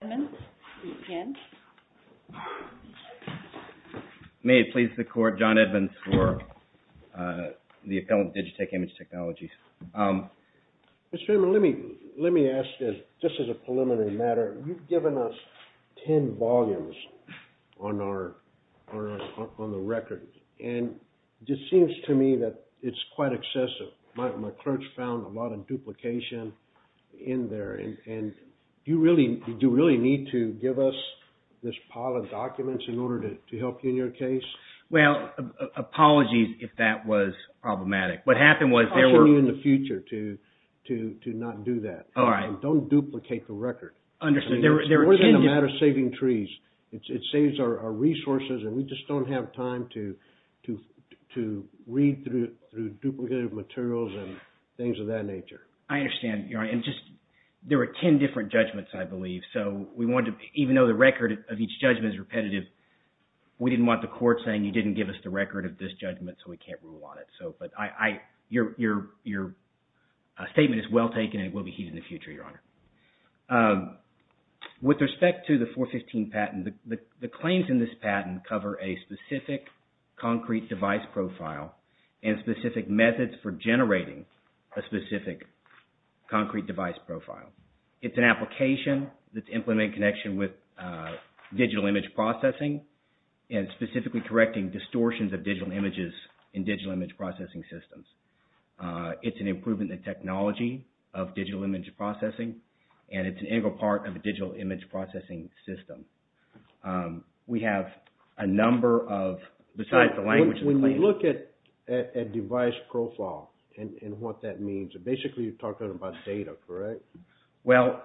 John Edmonds. May it please the court, John Edmonds for the Appellant Digitech Image Technologies. Mr. Edmonds, let me ask this, just as a preliminary matter. You've given us ten volumes on the record, and it seems to me that it's quite excessive. My clerks found a lot of duplication in there. Do you really need to give us this pile of documents in order to help you in your case? Well, apologies if that was problematic. I'll show you in the future to not do that. All right. Don't duplicate the record. Understood. It's more than a matter of saving trees. It saves our resources, and we just don't have time to read through duplicated materials and things of that nature. I understand, Your Honor. And just – there were ten different judgments, I believe. So we wanted to – even though the record of each judgment is repetitive, we didn't want the court saying you didn't give us the record of this judgment, so we can't rule on it. But your statement is well taken and will be used in the future, Your Honor. With respect to the 415 patent, the claims in this patent cover a specific concrete device profile and specific methods for generating a specific concrete device profile. It's an application that's implemented in connection with digital image processing and specifically correcting distortions of digital images in digital image processing systems. It's an improvement in technology of digital image processing, and it's an integral part of a digital image processing system. We have a number of – besides the language – If you look at device profile and what that means, basically you're talking about data, correct? Well,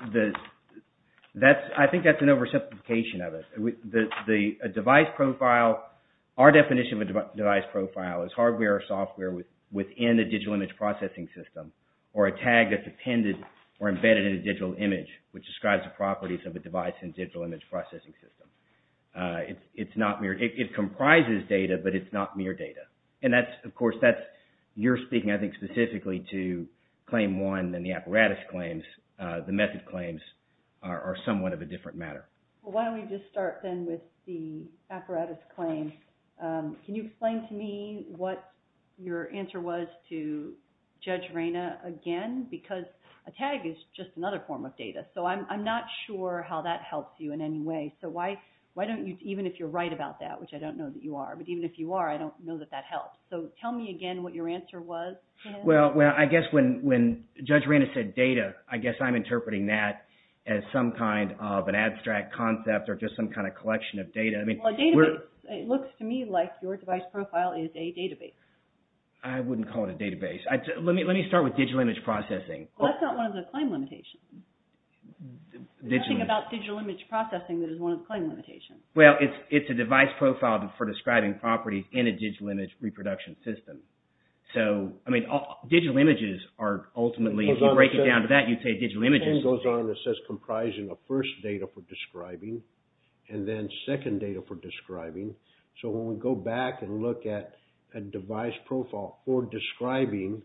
I think that's an oversimplification of it. The device profile – our definition of a device profile is hardware or software within a digital image processing system or a tag that's attended or embedded in a digital image, which describes the properties of a device in a digital image processing system. It's not mere – it comprises data, but it's not mere data. And that's – of course, that's – you're speaking, I think, specifically to Claim 1 and the apparatus claims. The method claims are somewhat of a different matter. Well, why don't we just start, then, with the apparatus claim. Can you explain to me what your answer was to Judge Reyna again? Because a tag is just another form of data, so I'm not sure how that helps you in any way. So why don't you – even if you're right about that, which I don't know that you are, but even if you are, I don't know that that helps. So tell me again what your answer was. Well, I guess when Judge Reyna said data, I guess I'm interpreting that as some kind of an abstract concept or just some kind of collection of data. Well, a database – it looks to me like your device profile is a database. I wouldn't call it a database. Let me start with digital image processing. Well, that's not one of the claim limitations. Digital image. There's nothing about digital image processing that is one of the claim limitations. Well, it's a device profile for describing properties in a digital image reproduction system. So, I mean, digital images are ultimately – if you break it down to that, you'd say digital images. It goes on and it says comprising of first data for describing and then second data for describing. So when we go back and look at a device profile for describing,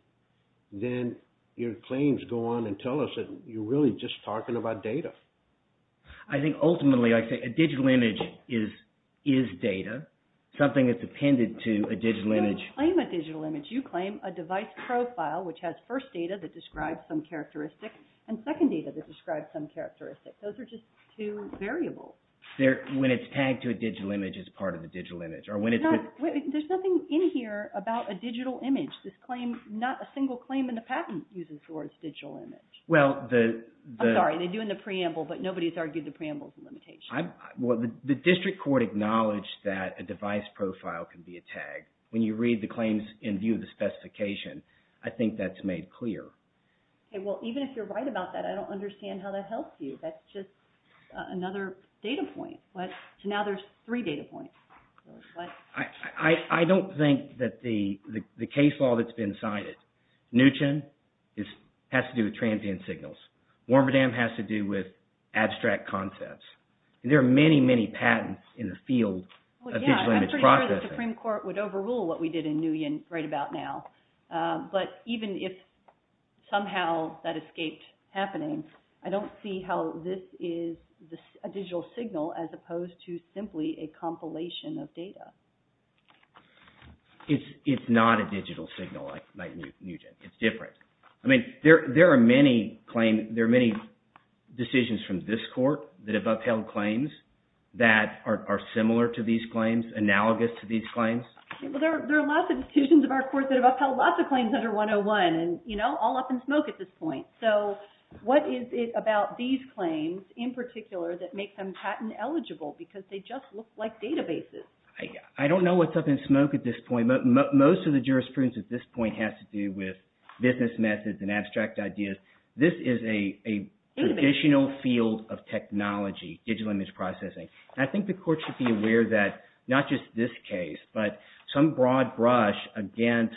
then your claims go on and tell us that you're really just talking about data. I think ultimately I'd say a digital image is data, something that's appended to a digital image. When you claim a digital image, you claim a device profile, which has first data that describes some characteristic and second data that describes some characteristic. Those are just two variables. When it's tagged to a digital image, it's part of a digital image. There's nothing in here about a digital image. This claim – not a single claim in the patent uses the word digital image. Well, the – I'm sorry. They do in the preamble, but nobody's argued the preamble's a limitation. The district court acknowledged that a device profile can be a tag. When you read the claims in view of the specification, I think that's made clear. Well, even if you're right about that, I don't understand how that helps you. That's just another data point. So now there's three data points. I don't think that the case law that's been cited – Neutron has to do with transient signals. Warmerdam has to do with abstract concepts. There are many, many patents in the field of digital image processing. Well, yeah, I'm pretty sure the Supreme Court would overrule what we did in Nguyen right about now. But even if somehow that escaped happening, I don't see how this is a digital signal as opposed to simply a compilation of data. It's not a digital signal like you did. It's different. I mean, there are many claim – there are many decisions from this court that have upheld claims that are similar to these claims, analogous to these claims. Well, there are lots of decisions of our court that have upheld lots of claims under 101, and, you know, all up in smoke at this point. So what is it about these claims in particular that makes them patent eligible because they just look like databases? I don't know what's up in smoke at this point. Most of the jurisprudence at this point has to do with business methods and abstract ideas. This is a traditional field of technology, digital image processing. And I think the court should be aware that not just this case, but some broad brush against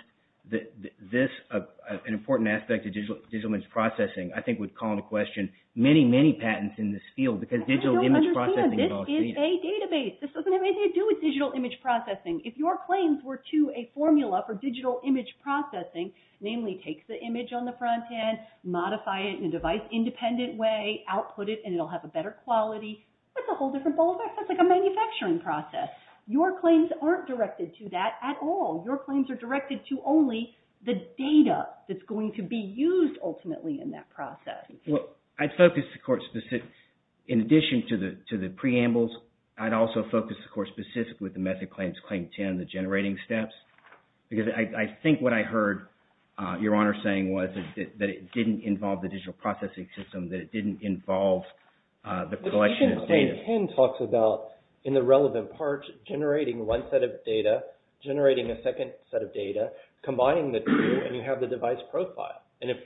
this, an important aspect of digital image processing, I think would call into question many, many patents in this field because digital image processing – I don't understand. This is a database. This doesn't have anything to do with digital image processing. If your claims were to a formula for digital image processing, namely take the image on the front end, modify it in a device-independent way, output it, and it will have a better quality. That's a whole different ballgame. That's like a manufacturing process. Your claims aren't directed to that at all. Your claims are directed to only the data that's going to be used ultimately in that process. I'd focus, of course, in addition to the preambles, I'd also focus, of course, specifically with the Method Claims Claim 10, the generating steps, because I think what I heard Your Honor saying was that it didn't involve the digital processing system, that it didn't involve the collection of data. The Method Claim 10 talks about, in the relevant parts, generating one set of data, generating a second set of data, combining the two, and you have the device profile. And if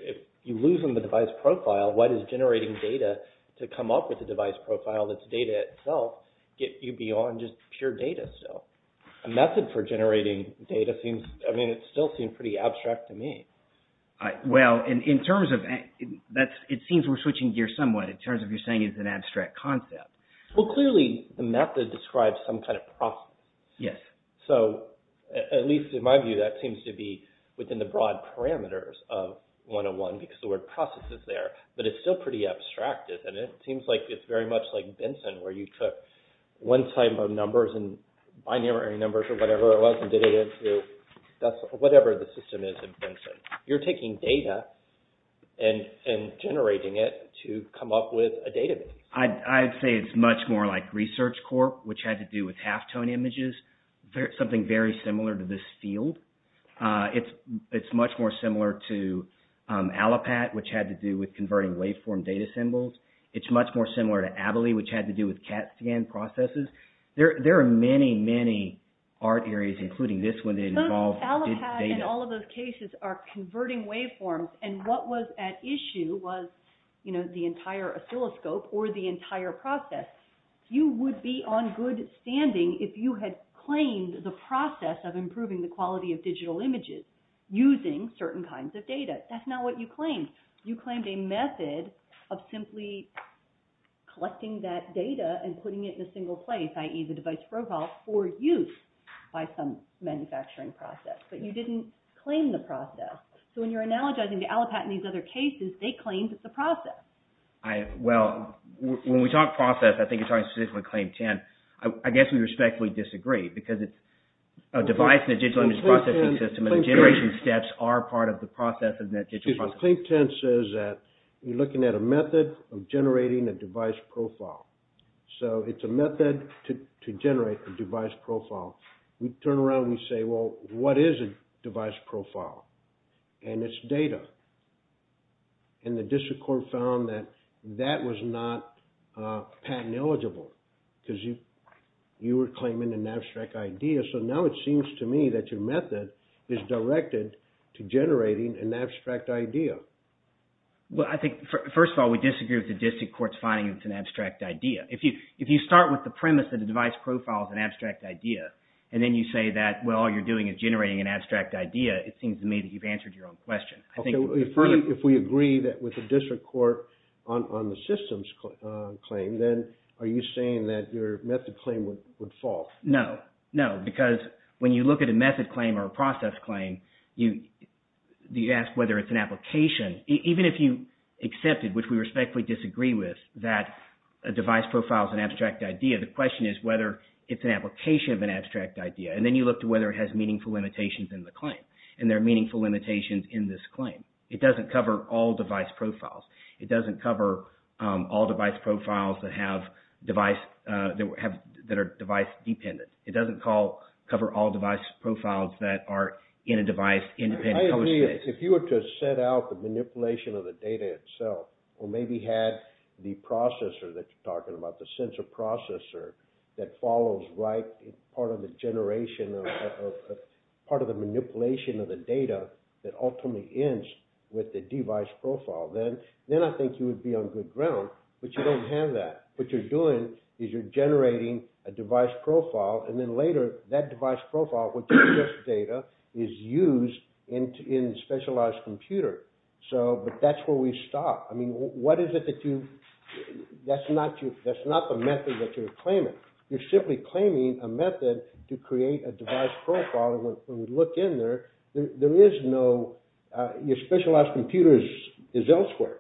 you lose on the device profile, what is generating data to come up with a device profile that's data itself get you beyond just pure data still? A method for generating data seems – I mean, it still seems pretty abstract to me. Well, in terms of – it seems we're switching gears somewhat in terms of you're saying it's an abstract concept. Well, clearly, the method describes some kind of process. Yes. So, at least in my view, that seems to be within the broad parameters of 101, because the word process is there, but it's still pretty abstract, isn't it? It seems like it's very much like Benson, where you took one type of numbers and binary numbers or whatever it was and did it into whatever the system is in Benson. You're taking data and generating it to come up with a database. I'd say it's much more like ResearchCorp, which had to do with halftone images, something very similar to this field. It's much more similar to Allopat, which had to do with converting waveform data symbols. It's much more similar to Abily, which had to do with CAT scan processes. There are many, many art areas, including this one, that involve data. So, Allopat and all of those cases are converting waveforms, and what was at issue was the entire oscilloscope or the entire process. You would be on good standing if you had claimed the process of improving the quality of digital images using certain kinds of data. That's not what you claimed. You claimed a method of simply collecting that data and putting it in a single place, i.e., the device profile, for use by some manufacturing process. But you didn't claim the process. So, when you're analogizing to Allopat and these other cases, they claimed it's a process. Well, when we talk process, I think you're talking specifically about Claim 10. I guess we respectfully disagree, because it's a device in a digital image processing system, and the generation steps are part of the process in that digital process. Claim 10 says that you're looking at a method of generating a device profile. So, it's a method to generate a device profile. We turn around and we say, well, what is a device profile? And it's data. And the district court found that that was not patent eligible, because you were claiming an abstract idea. So, now it seems to me that your method is directed to generating an abstract idea. Well, I think, first of all, we disagree with the district court's finding it's an abstract idea. If you start with the premise that a device profile is an abstract idea, and then you say that, well, all you're doing is generating an abstract idea, it seems to me that you've answered your own question. If we agree with the district court on the systems claim, then are you saying that your method claim would fall? No, no, because when you look at a method claim or a process claim, you ask whether it's an application. Even if you accepted, which we respectfully disagree with, that a device profile is an abstract idea, the question is whether it's an application of an abstract idea. And then you look to whether it has meaningful limitations in the claim, and there are meaningful limitations in this claim. It doesn't cover all device profiles. It doesn't cover all device profiles that are device-dependent. It doesn't cover all device profiles that are in a device-independent public space. I agree. If you were to set out the manipulation of the data itself, or maybe had the processor that you're talking about, the sensor processor, that follows part of the manipulation of the data that ultimately ends with the device profile, then I think you would be on good ground, but you don't have that. What you're doing is you're generating a device profile, and then later that device profile, which is just data, is used in a specialized computer. But that's where we stop. I mean, what is it that you – that's not the method that you're claiming. You're simply claiming a method to create a device profile. When we look in there, there is no – your specialized computer is elsewhere.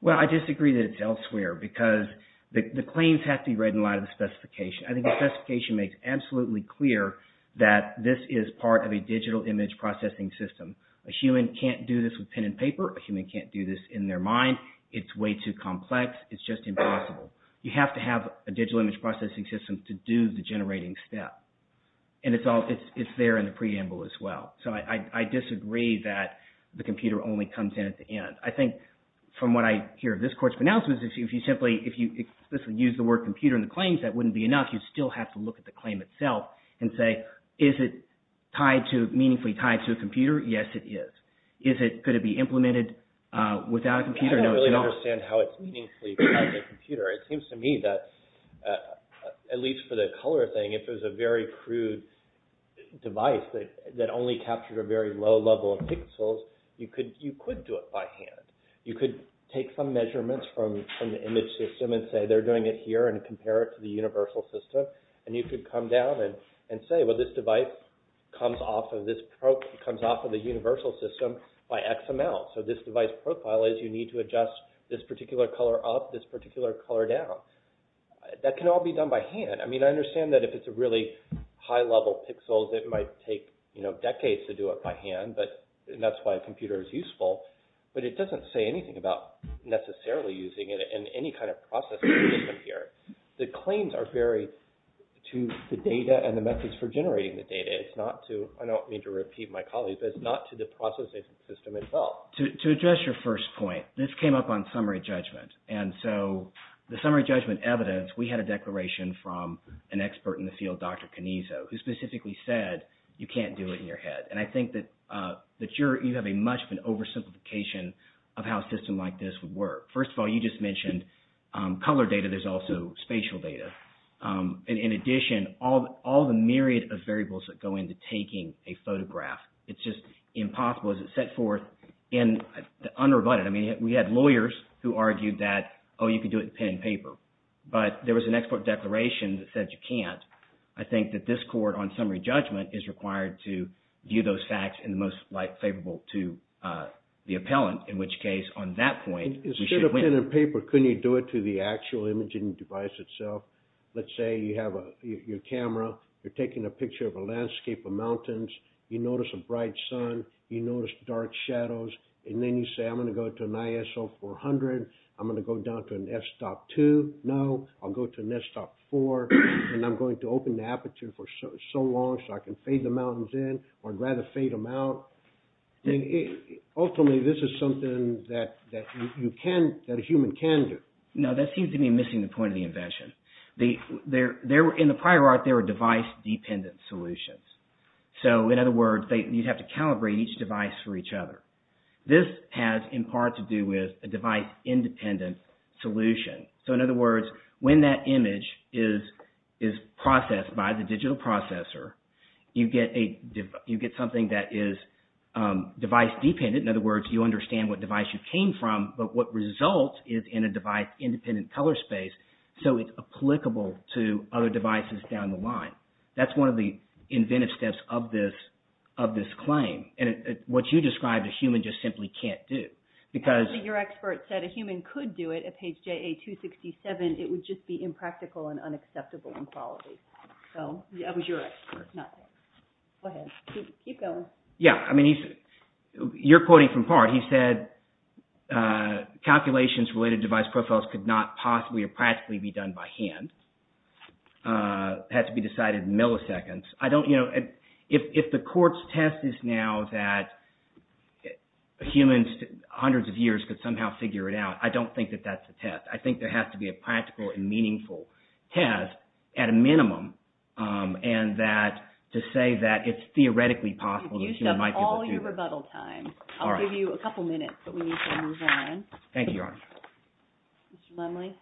Well, I disagree that it's elsewhere, because the claims have to be read in light of the specification. I think the specification makes absolutely clear that this is part of a digital image processing system. A human can't do this with pen and paper. A human can't do this in their mind. It's way too complex. It's just impossible. You have to have a digital image processing system to do the generating step, and it's there in the preamble as well. So I disagree that the computer only comes in at the end. I think from what I hear of this Court's pronouncements, if you simply – if you explicitly use the word computer in the claims, that wouldn't be enough. You still have to look at the claim itself and say, is it tied to – meaningfully tied to a computer? Yes, it is. Is it – could it be implemented without a computer? No, it's not. I don't really understand how it's meaningfully tied to a computer. It seems to me that, at least for the color thing, if it was a very crude device that only captured a very low level of pixels, you could do it by hand. You could take some measurements from the image system and say they're doing it here and compare it to the universal system, and you could come down and say, well, this device comes off of this – comes off of the universal system by XML. So this device profile is you need to adjust this particular color up, this particular color down. That can all be done by hand. I mean, I understand that if it's a really high level pixel, it might take decades to do it by hand, and that's why a computer is useful, but it doesn't say anything about necessarily using it in any kind of processing system here. The claims are very – to the data and the methods for generating the data. It's not to – I don't mean to repeat my colleagues, but it's not to the processing system itself. To address your first point, this came up on summary judgment, and so the summary judgment evidence, we had a declaration from an expert in the field, Dr. Canizzo, who specifically said you can't do it in your head, and I think that you're – you have a much of an oversimplification of how a system like this would work. First of all, you just mentioned color data. There's also spatial data. In addition, all the myriad of variables that go into taking a photograph, it's just impossible. It's set forth unrebutted. I mean, we had lawyers who argued that, oh, you can do it in pen and paper, but there was an expert declaration that said you can't. I think that this court on summary judgment is required to view those facts in the most favorable to the appellant, in which case on that point, we should win. Instead of pen and paper, couldn't you do it through the actual imaging device itself? Let's say you have your camera. You're taking a picture of a landscape of mountains. You notice a bright sun. You notice dark shadows, and then you say, I'm going to go to an ISO 400. I'm going to go down to an S-stop 2. No, I'll go to an S-stop 4, and I'm going to open the aperture for so long so I can fade the mountains in, or I'd rather fade them out. Ultimately, this is something that you can – that a human can do. No, that seems to me missing the point of the invention. In the prior art, there were device-dependent solutions. In other words, you'd have to calibrate each device for each other. This has in part to do with a device-independent solution. In other words, when that image is processed by the digital processor, you get something that is device-dependent. In other words, you understand what device you came from, but what result is in a device-independent color space, so it's applicable to other devices down the line. That's one of the inventive steps of this claim. What you described, a human just simply can't do. Actually, your expert said a human could do it at page JA-267. It would just be impractical and unacceptable in quality. That was your expert, not mine. Go ahead. Keep going. Yeah, I mean, you're quoting from part. He said calculations related to device profiles could not possibly or practically be done by hand. It had to be decided in milliseconds. I don't, you know, if the court's test is now that humans, hundreds of years, could somehow figure it out, I don't think that that's a test. I think there has to be a practical and meaningful test, at a minimum, and that to say that it's theoretically possible that a human might be able to do it. You've used up all your rebuttal time. All right. I'll give you a couple minutes, but we need to move on. Thank you, Your Honor. Mr. Lemley?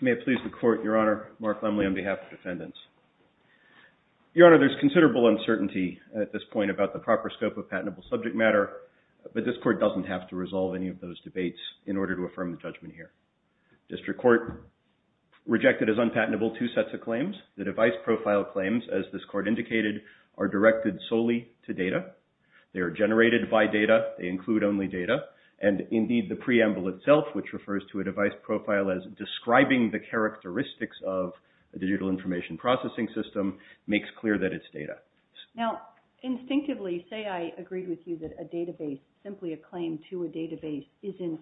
May it please the court, Your Honor, Mark Lemley on behalf of defendants. Your Honor, there's considerable uncertainty at this point about the proper scope of patentable subject matter, but this court doesn't have to resolve any of those debates in order to affirm the judgment here. District Court rejected as unpatentable two sets of claims. The device profile claims, as this court indicated, are directed solely to data. They are generated by data. They include only data. And, indeed, the preamble itself, which refers to a device profile as describing the characteristics of a digital information processing system, makes clear that it's data. Now, instinctively, say I agreed with you that a database, simply a claim to a database, isn't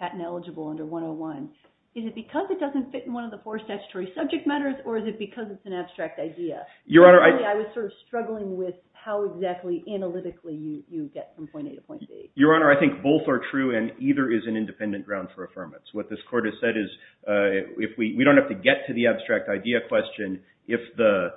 patent eligible under 101. Is it because it doesn't fit in one of the four statutory subject matters, or is it because it's an abstract idea? I was sort of struggling with how exactly analytically you get from point A to point B. Your Honor, I think both are true, and either is an independent ground for affirmance. What this court has said is we don't have to get to the abstract idea question if the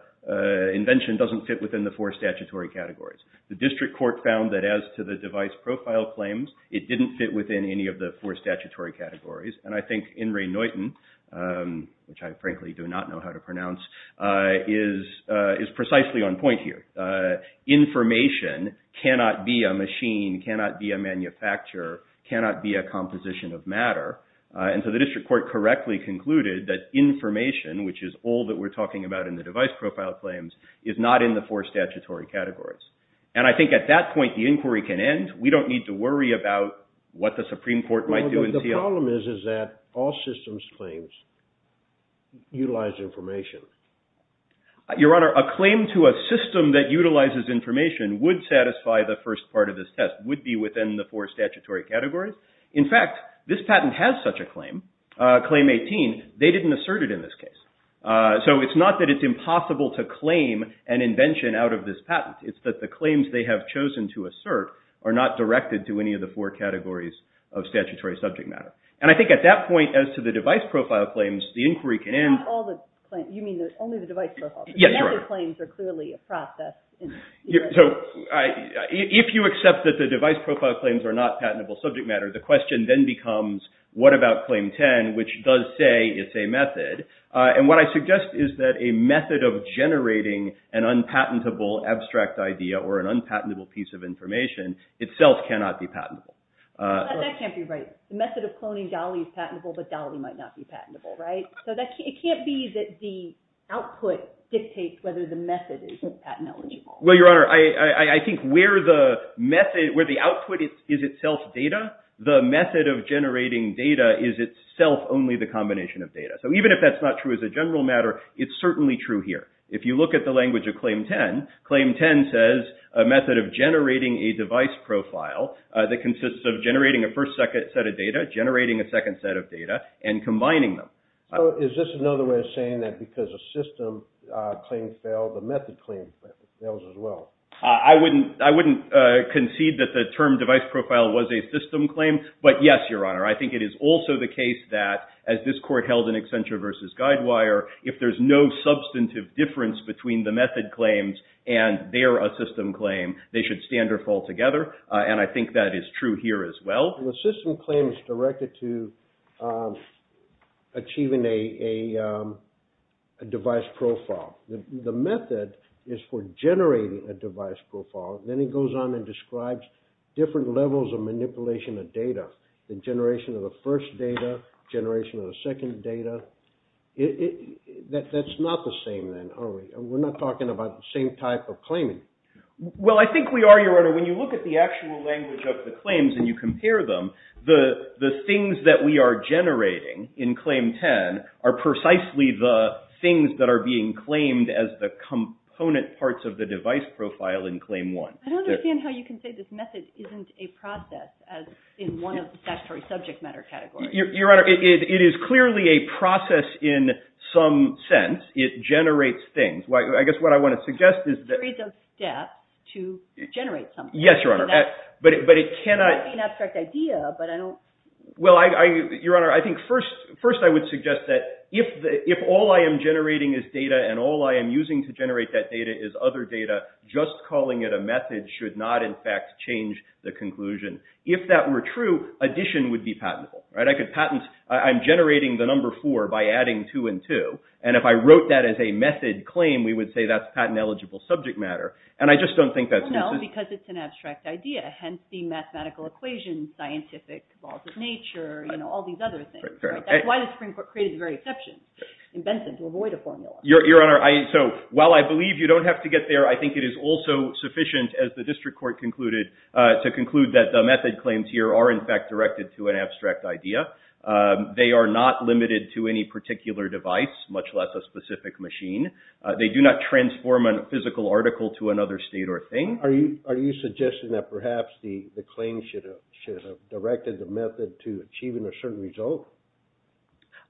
invention doesn't fit within the four statutory categories. The District Court found that as to the device profile claims, it didn't fit within any of the four statutory categories. And I think In re Neuten, which I frankly do not know how to pronounce, is precisely on point here. Information cannot be a machine, cannot be a manufacturer, cannot be a composition of matter. And so the District Court correctly concluded that information, which is all that we're talking about in the device profile claims, is not in the four statutory categories. And I think at that point the inquiry can end. We don't need to worry about what the Supreme Court might do. The problem is that all systems claims utilize information. Your Honor, a claim to a system that utilizes information would satisfy the first part of this test, would be within the four statutory categories. In fact, this patent has such a claim, Claim 18. They didn't assert it in this case. So it's not that it's impossible to claim an invention out of this patent. It's that the claims they have chosen to assert are not directed to any of the four categories of statutory subject matter. And I think at that point, as to the device profile claims, the inquiry can end. You mean only the device profile? Yes, Your Honor. The method claims are clearly a process. So if you accept that the device profile claims are not patentable subject matter, the question then becomes, what about Claim 10, which does say it's a method? And what I suggest is that a method of generating an unpatentable abstract idea or an unpatentable piece of information itself cannot be patentable. That can't be right. The method of cloning Dolly is patentable, but Dolly might not be patentable, right? So it can't be that the output dictates whether the method is patentable. Well, Your Honor, I think where the output is itself data, the method of generating data is itself only the combination of data. So even if that's not true as a general matter, it's certainly true here. If you look at the language of Claim 10, Claim 10 says a method of generating a device profile that consists of generating a first set of data, generating a second set of data, and combining them. So is this another way of saying that because a system claim failed, a method claim fails as well? I wouldn't concede that the term device profile was a system claim, but yes, Your Honor, I think it is also the case that as this Court held in Accenture v. Guidewire, if there's no substantive difference between the method claims and their system claim, they should stand or fall together, and I think that is true here as well. The system claim is directed to achieving a device profile. The method is for generating a device profile. Then it goes on and describes different levels of manipulation of data, the generation of the first data, generation of the second data. That's not the same, then, are we? We're not talking about the same type of claiming. Well, I think we are, Your Honor. When you look at the actual language of the claims and you compare them, the things that we are generating in Claim 10 are precisely the things that are being claimed as the component parts of the device profile in Claim 1. I don't understand how you can say this method isn't a process as in one of the statutory subject matter categories. Your Honor, it is clearly a process in some sense. It generates things. It creates a step to generate something. Yes, Your Honor. But it cannot be an abstract idea. Well, Your Honor, I think first I would suggest that if all I am generating is data and all I am using to generate that data is other data, just calling it a method should not, in fact, change the conclusion. If that were true, addition would be patentable. I'm generating the number 4 by adding 2 and 2, and if I wrote that as a method claim, we would say that's patent-eligible subject matter. And I just don't think that's consistent. No, because it's an abstract idea. Hence, the mathematical equations, scientific laws of nature, you know, all these other things. That's why the Supreme Court created the very exception in Benson to avoid a formula. Your Honor, while I believe you don't have to get there, I think it is also sufficient, as the District Court concluded, to conclude that the method claims here are, in fact, directed to an abstract idea. They are not limited to any particular device, much less a specific machine. They do not transform a physical article to another state or thing. Are you suggesting that perhaps the claim should have directed the method to achieving a certain result?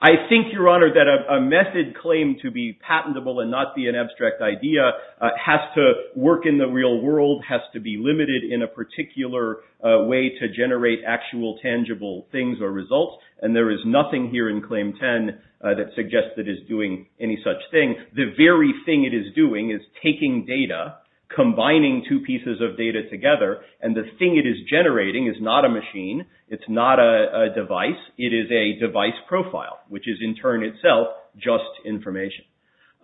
I think, Your Honor, that a method claim to be patentable and not be an abstract idea has to work in the real world, has to be limited in a particular way to generate actual tangible things or results. And there is nothing here in Claim 10 that suggests that it is doing any such thing. The very thing it is doing is taking data, combining two pieces of data together, and the thing it is generating is not a machine. It's not a device. It is a device profile, which is, in turn itself, just information.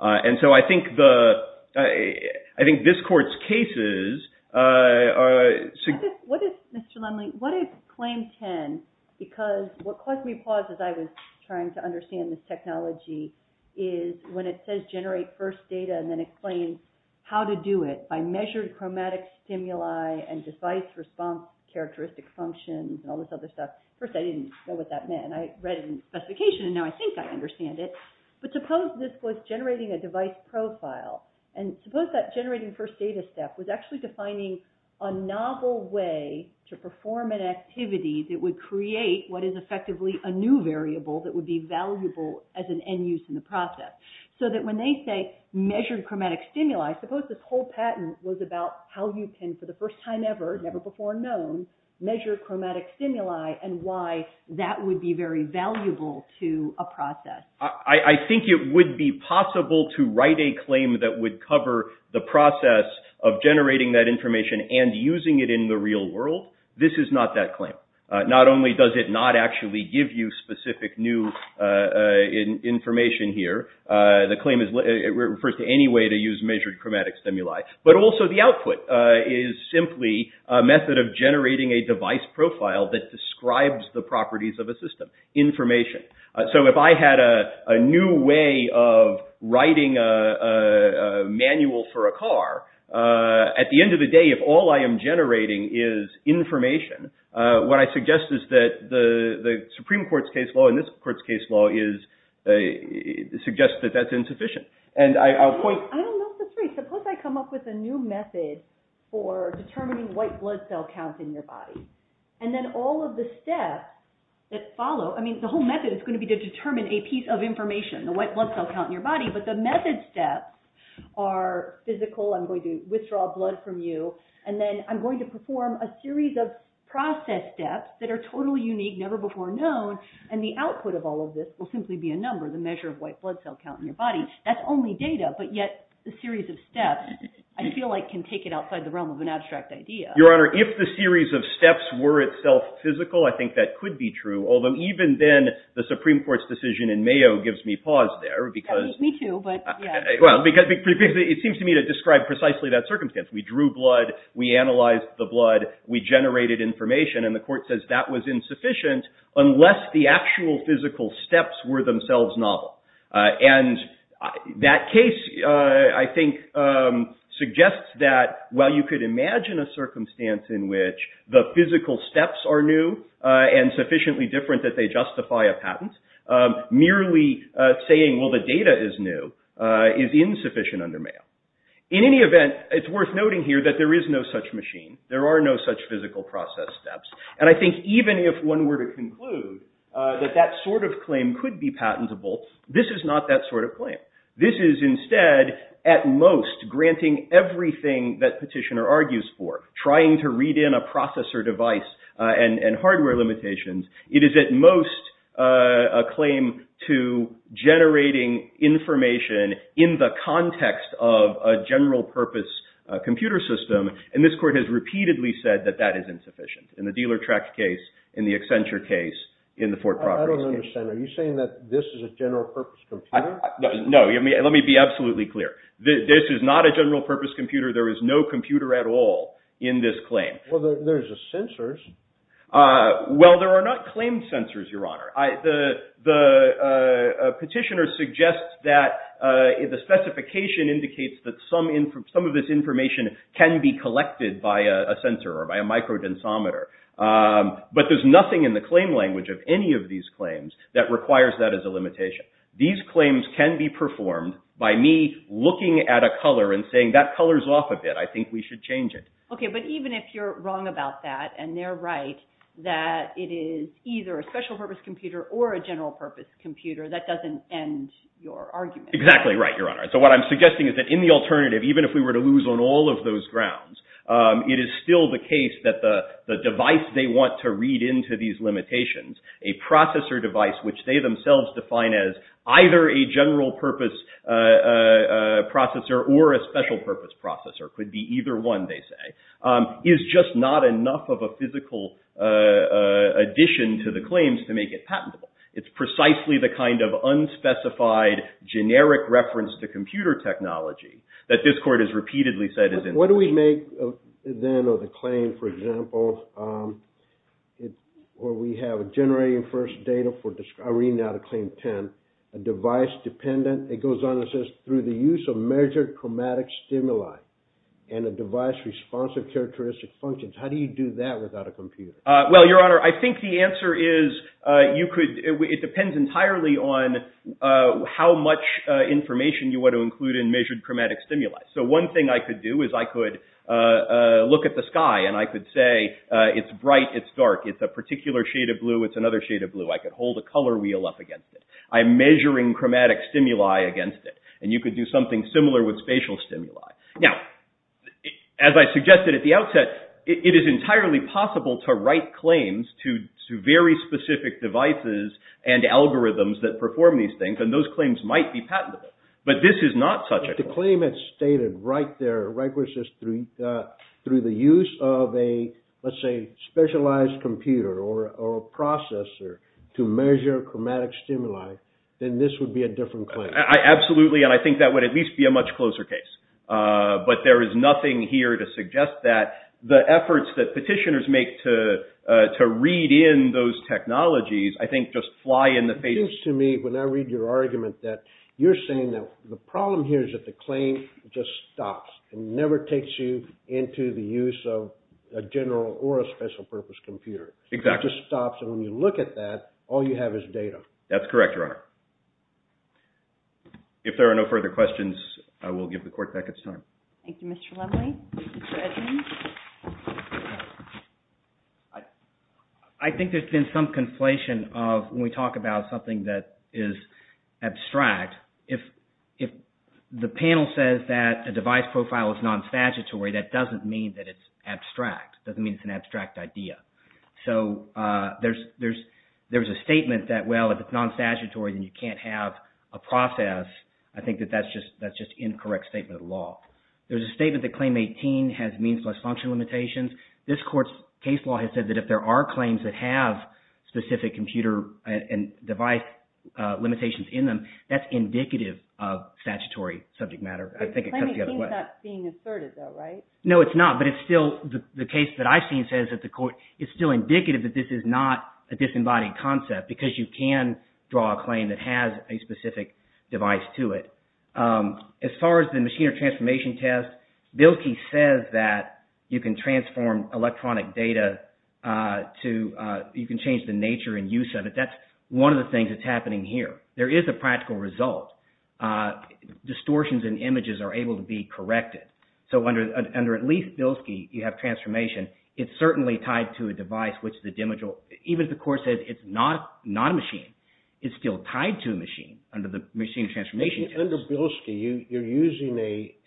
And so I think the – I think this Court's cases are – What is – Mr. Lumley, what is Claim 10? Because what caused me to pause as I was trying to understand this technology is when it says generate first data and then it claims how to do it by measured chromatic stimuli and device response characteristic functions and all this other stuff. First, I didn't know what that meant. I read it in the specification, and now I think I understand it. But suppose this was generating a device profile. And suppose that generating first data step was actually defining a novel way to perform an activity that would create what is effectively a new variable that would be valuable as an end use in the process. So that when they say measured chromatic stimuli, suppose this whole patent was about how you can, for the first time ever, never before known, measure chromatic stimuli and why that would be very valuable to a process. I think it would be possible to write a claim that would cover the process of generating that information and using it in the real world. This is not that claim. Not only does it not actually give you specific new information here, the claim refers to any way to use measured chromatic stimuli, but also the output is simply a method of generating a device profile that describes the properties of a system, information. So if I had a new way of writing a manual for a car, at the end of the day if all I am generating is information, what I suggest is that the Supreme Court's case law and this court's case law suggests that that's insufficient. I don't know if that's right. Suppose I come up with a new method for determining white blood cell counts in your body. And then all of the steps that follow, I mean the whole method is going to be to determine a piece of information, the white blood cell count in your body, but the method steps are physical. I'm going to withdraw blood from you, and then I'm going to perform a series of process steps that are totally unique, never before known, and the output of all of this will simply be a number, the measure of white blood cell count in your body. That's only data, but yet the series of steps I feel like can take it outside the realm of an abstract idea. Your Honor, if the series of steps were itself physical, I think that could be true, although even then, the Supreme Court's decision in Mayo gives me pause there. Me too, but yeah. It seems to me to describe precisely that circumstance. We drew blood, we analyzed the blood, we generated information, and the court says that was insufficient unless the actual physical steps were themselves novel. And that case I think suggests that while you could imagine a circumstance in which the physical steps are new and sufficiently different that they justify a patent, merely saying, well, the data is new, is insufficient under Mayo. In any event, it's worth noting here that there is no such machine. There are no such physical process steps. And I think even if one were to conclude that that sort of claim could be patentable, this is not that sort of claim. This is instead at most granting everything that Petitioner argues for, trying to read in a processor device and hardware limitations. It is at most a claim to generating information in the context of a general purpose computer system. And this court has repeatedly said that that is insufficient in the Dealer Tract case, in the Accenture case, in the Fort Property case. I don't understand. Are you saying that this is a general purpose computer? No. Let me be absolutely clear. This is not a general purpose computer. There is no computer at all in this claim. Well, there's the sensors. Well, there are not claimed sensors, Your Honor. The Petitioner suggests that the specification indicates that some of this information can be collected by a sensor or by a micro-densometer. But there's nothing in the claim language of any of these claims that requires that as a limitation. These claims can be performed by me looking at a color and saying, that colors off a bit. I think we should change it. Okay. But even if you're wrong about that and they're right that it is either a special purpose computer or a general purpose computer, that doesn't end your argument. Exactly right, Your Honor. So what I'm suggesting is that in the alternative, even if we were to lose on all of those grounds, it is still the case that the device they want to read into these limitations, a processor device, which they themselves define as either a general purpose processor or a special purpose processor, could be either one, they say, is just not enough of a physical addition to the claims to make it patentable. It's precisely the kind of unspecified, generic reference to computer technology that this Court has repeatedly said is in violation. What do we make then of the claim, for example, where we have a generating first data for I read now the Claim 10, a device dependent. It goes on and says through the use of measured chromatic stimuli and a device responsive characteristic functions. How do you do that without a computer? Well, Your Honor, I think the answer is you could, it depends entirely on how much information you want to include in measured chromatic stimuli. So one thing I could do is I could look at the sky and I could say it's bright, it's dark, it's a particular shade of blue, it's another shade of blue. I could hold a color wheel up against it. I'm measuring chromatic stimuli against it. And you could do something similar with spatial stimuli. Now, as I suggested at the outset, it is entirely possible to write claims to very specific devices and algorithms that perform these things. And those claims might be patentable. But this is not such a claim. It's stated right there, right where it says through the use of a, let's say, specialized computer or a processor to measure chromatic stimuli, then this would be a different claim. Absolutely. And I think that would at least be a much closer case. But there is nothing here to suggest that the efforts that petitioners make to read in those technologies, I think, just fly in the face. It seems to me when I read your argument that you're saying that the problem here is that the claim just stops and never takes you into the use of a general or a special purpose computer. Exactly. It just stops. And when you look at that, all you have is data. That's correct, Your Honor. If there are no further questions, I will give the court back its time. Thank you, Mr. Lovely. Mr. Edmunds. I think there's been some conflation of when we talk about something that is abstract, if the panel says that a device profile is non-statutory, that doesn't mean that it's abstract. It doesn't mean it's an abstract idea. So there's a statement that, well, if it's non-statutory, then you can't have a process. I think that that's just an incorrect statement of law. There's a statement that Claim 18 has means plus function limitations. This court's case law has said that if there are claims that have specific computer and device limitations in them, that's indicative of statutory subject matter. I think it comes the other way. It's not being asserted, though, right? No, it's not. But it's still, the case that I've seen says that the court, it's still indicative that this is not a disembodied concept because you can draw a claim that has a specific device to it. As far as the machine or transformation test, Bilkey says that you can transform electronic data to, you can change the nature and use of it. That's one of the things that's happening here. There is a practical result. Distortions in images are able to be corrected. So under at least Bilkey, you have transformation. It's certainly tied to a device, which is a dimensional. Even if the court says it's not a machine, it's still tied to a machine under the machine transformation test. Under Bilkey, you're using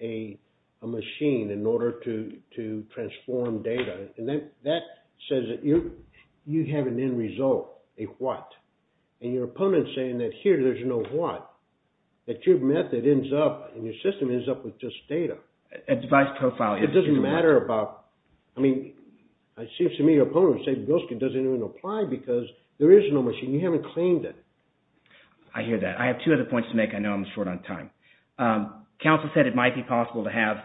a machine in order to transform data. And that says that you have an end result, a what. And your opponent's saying that here there's no what. That your method ends up, and your system ends up with just data. A device profile. It doesn't matter about, I mean, it seems to me your opponent would say Bilkey doesn't even apply because there is no machine. You haven't claimed it. I hear that. I have two other points to make. I know I'm short on time. Counsel said it might be possible to have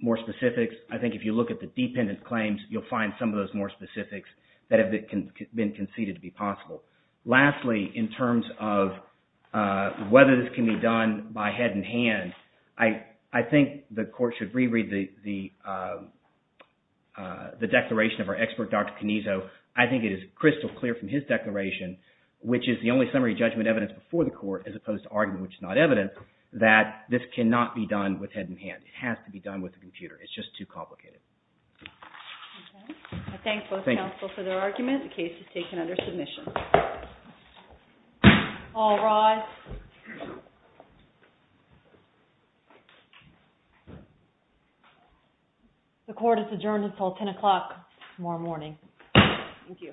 more specifics. I think if you look at the dependent claims, you'll find some of those more specifics that have been conceded to be possible. Lastly, in terms of whether this can be done by head and hand, I think the court should reread the declaration of our expert, Dr. Canizo. I think it is crystal clear from his declaration, which is the only summary judgment evidence before the court, as opposed to argument, which is not evident, that this cannot be done with head and hand. It has to be done with a computer. It's just too complicated. I thank both counsel for their argument. The case is taken under submission. All rise. The court is adjourned until 10 o'clock tomorrow morning. Thank you.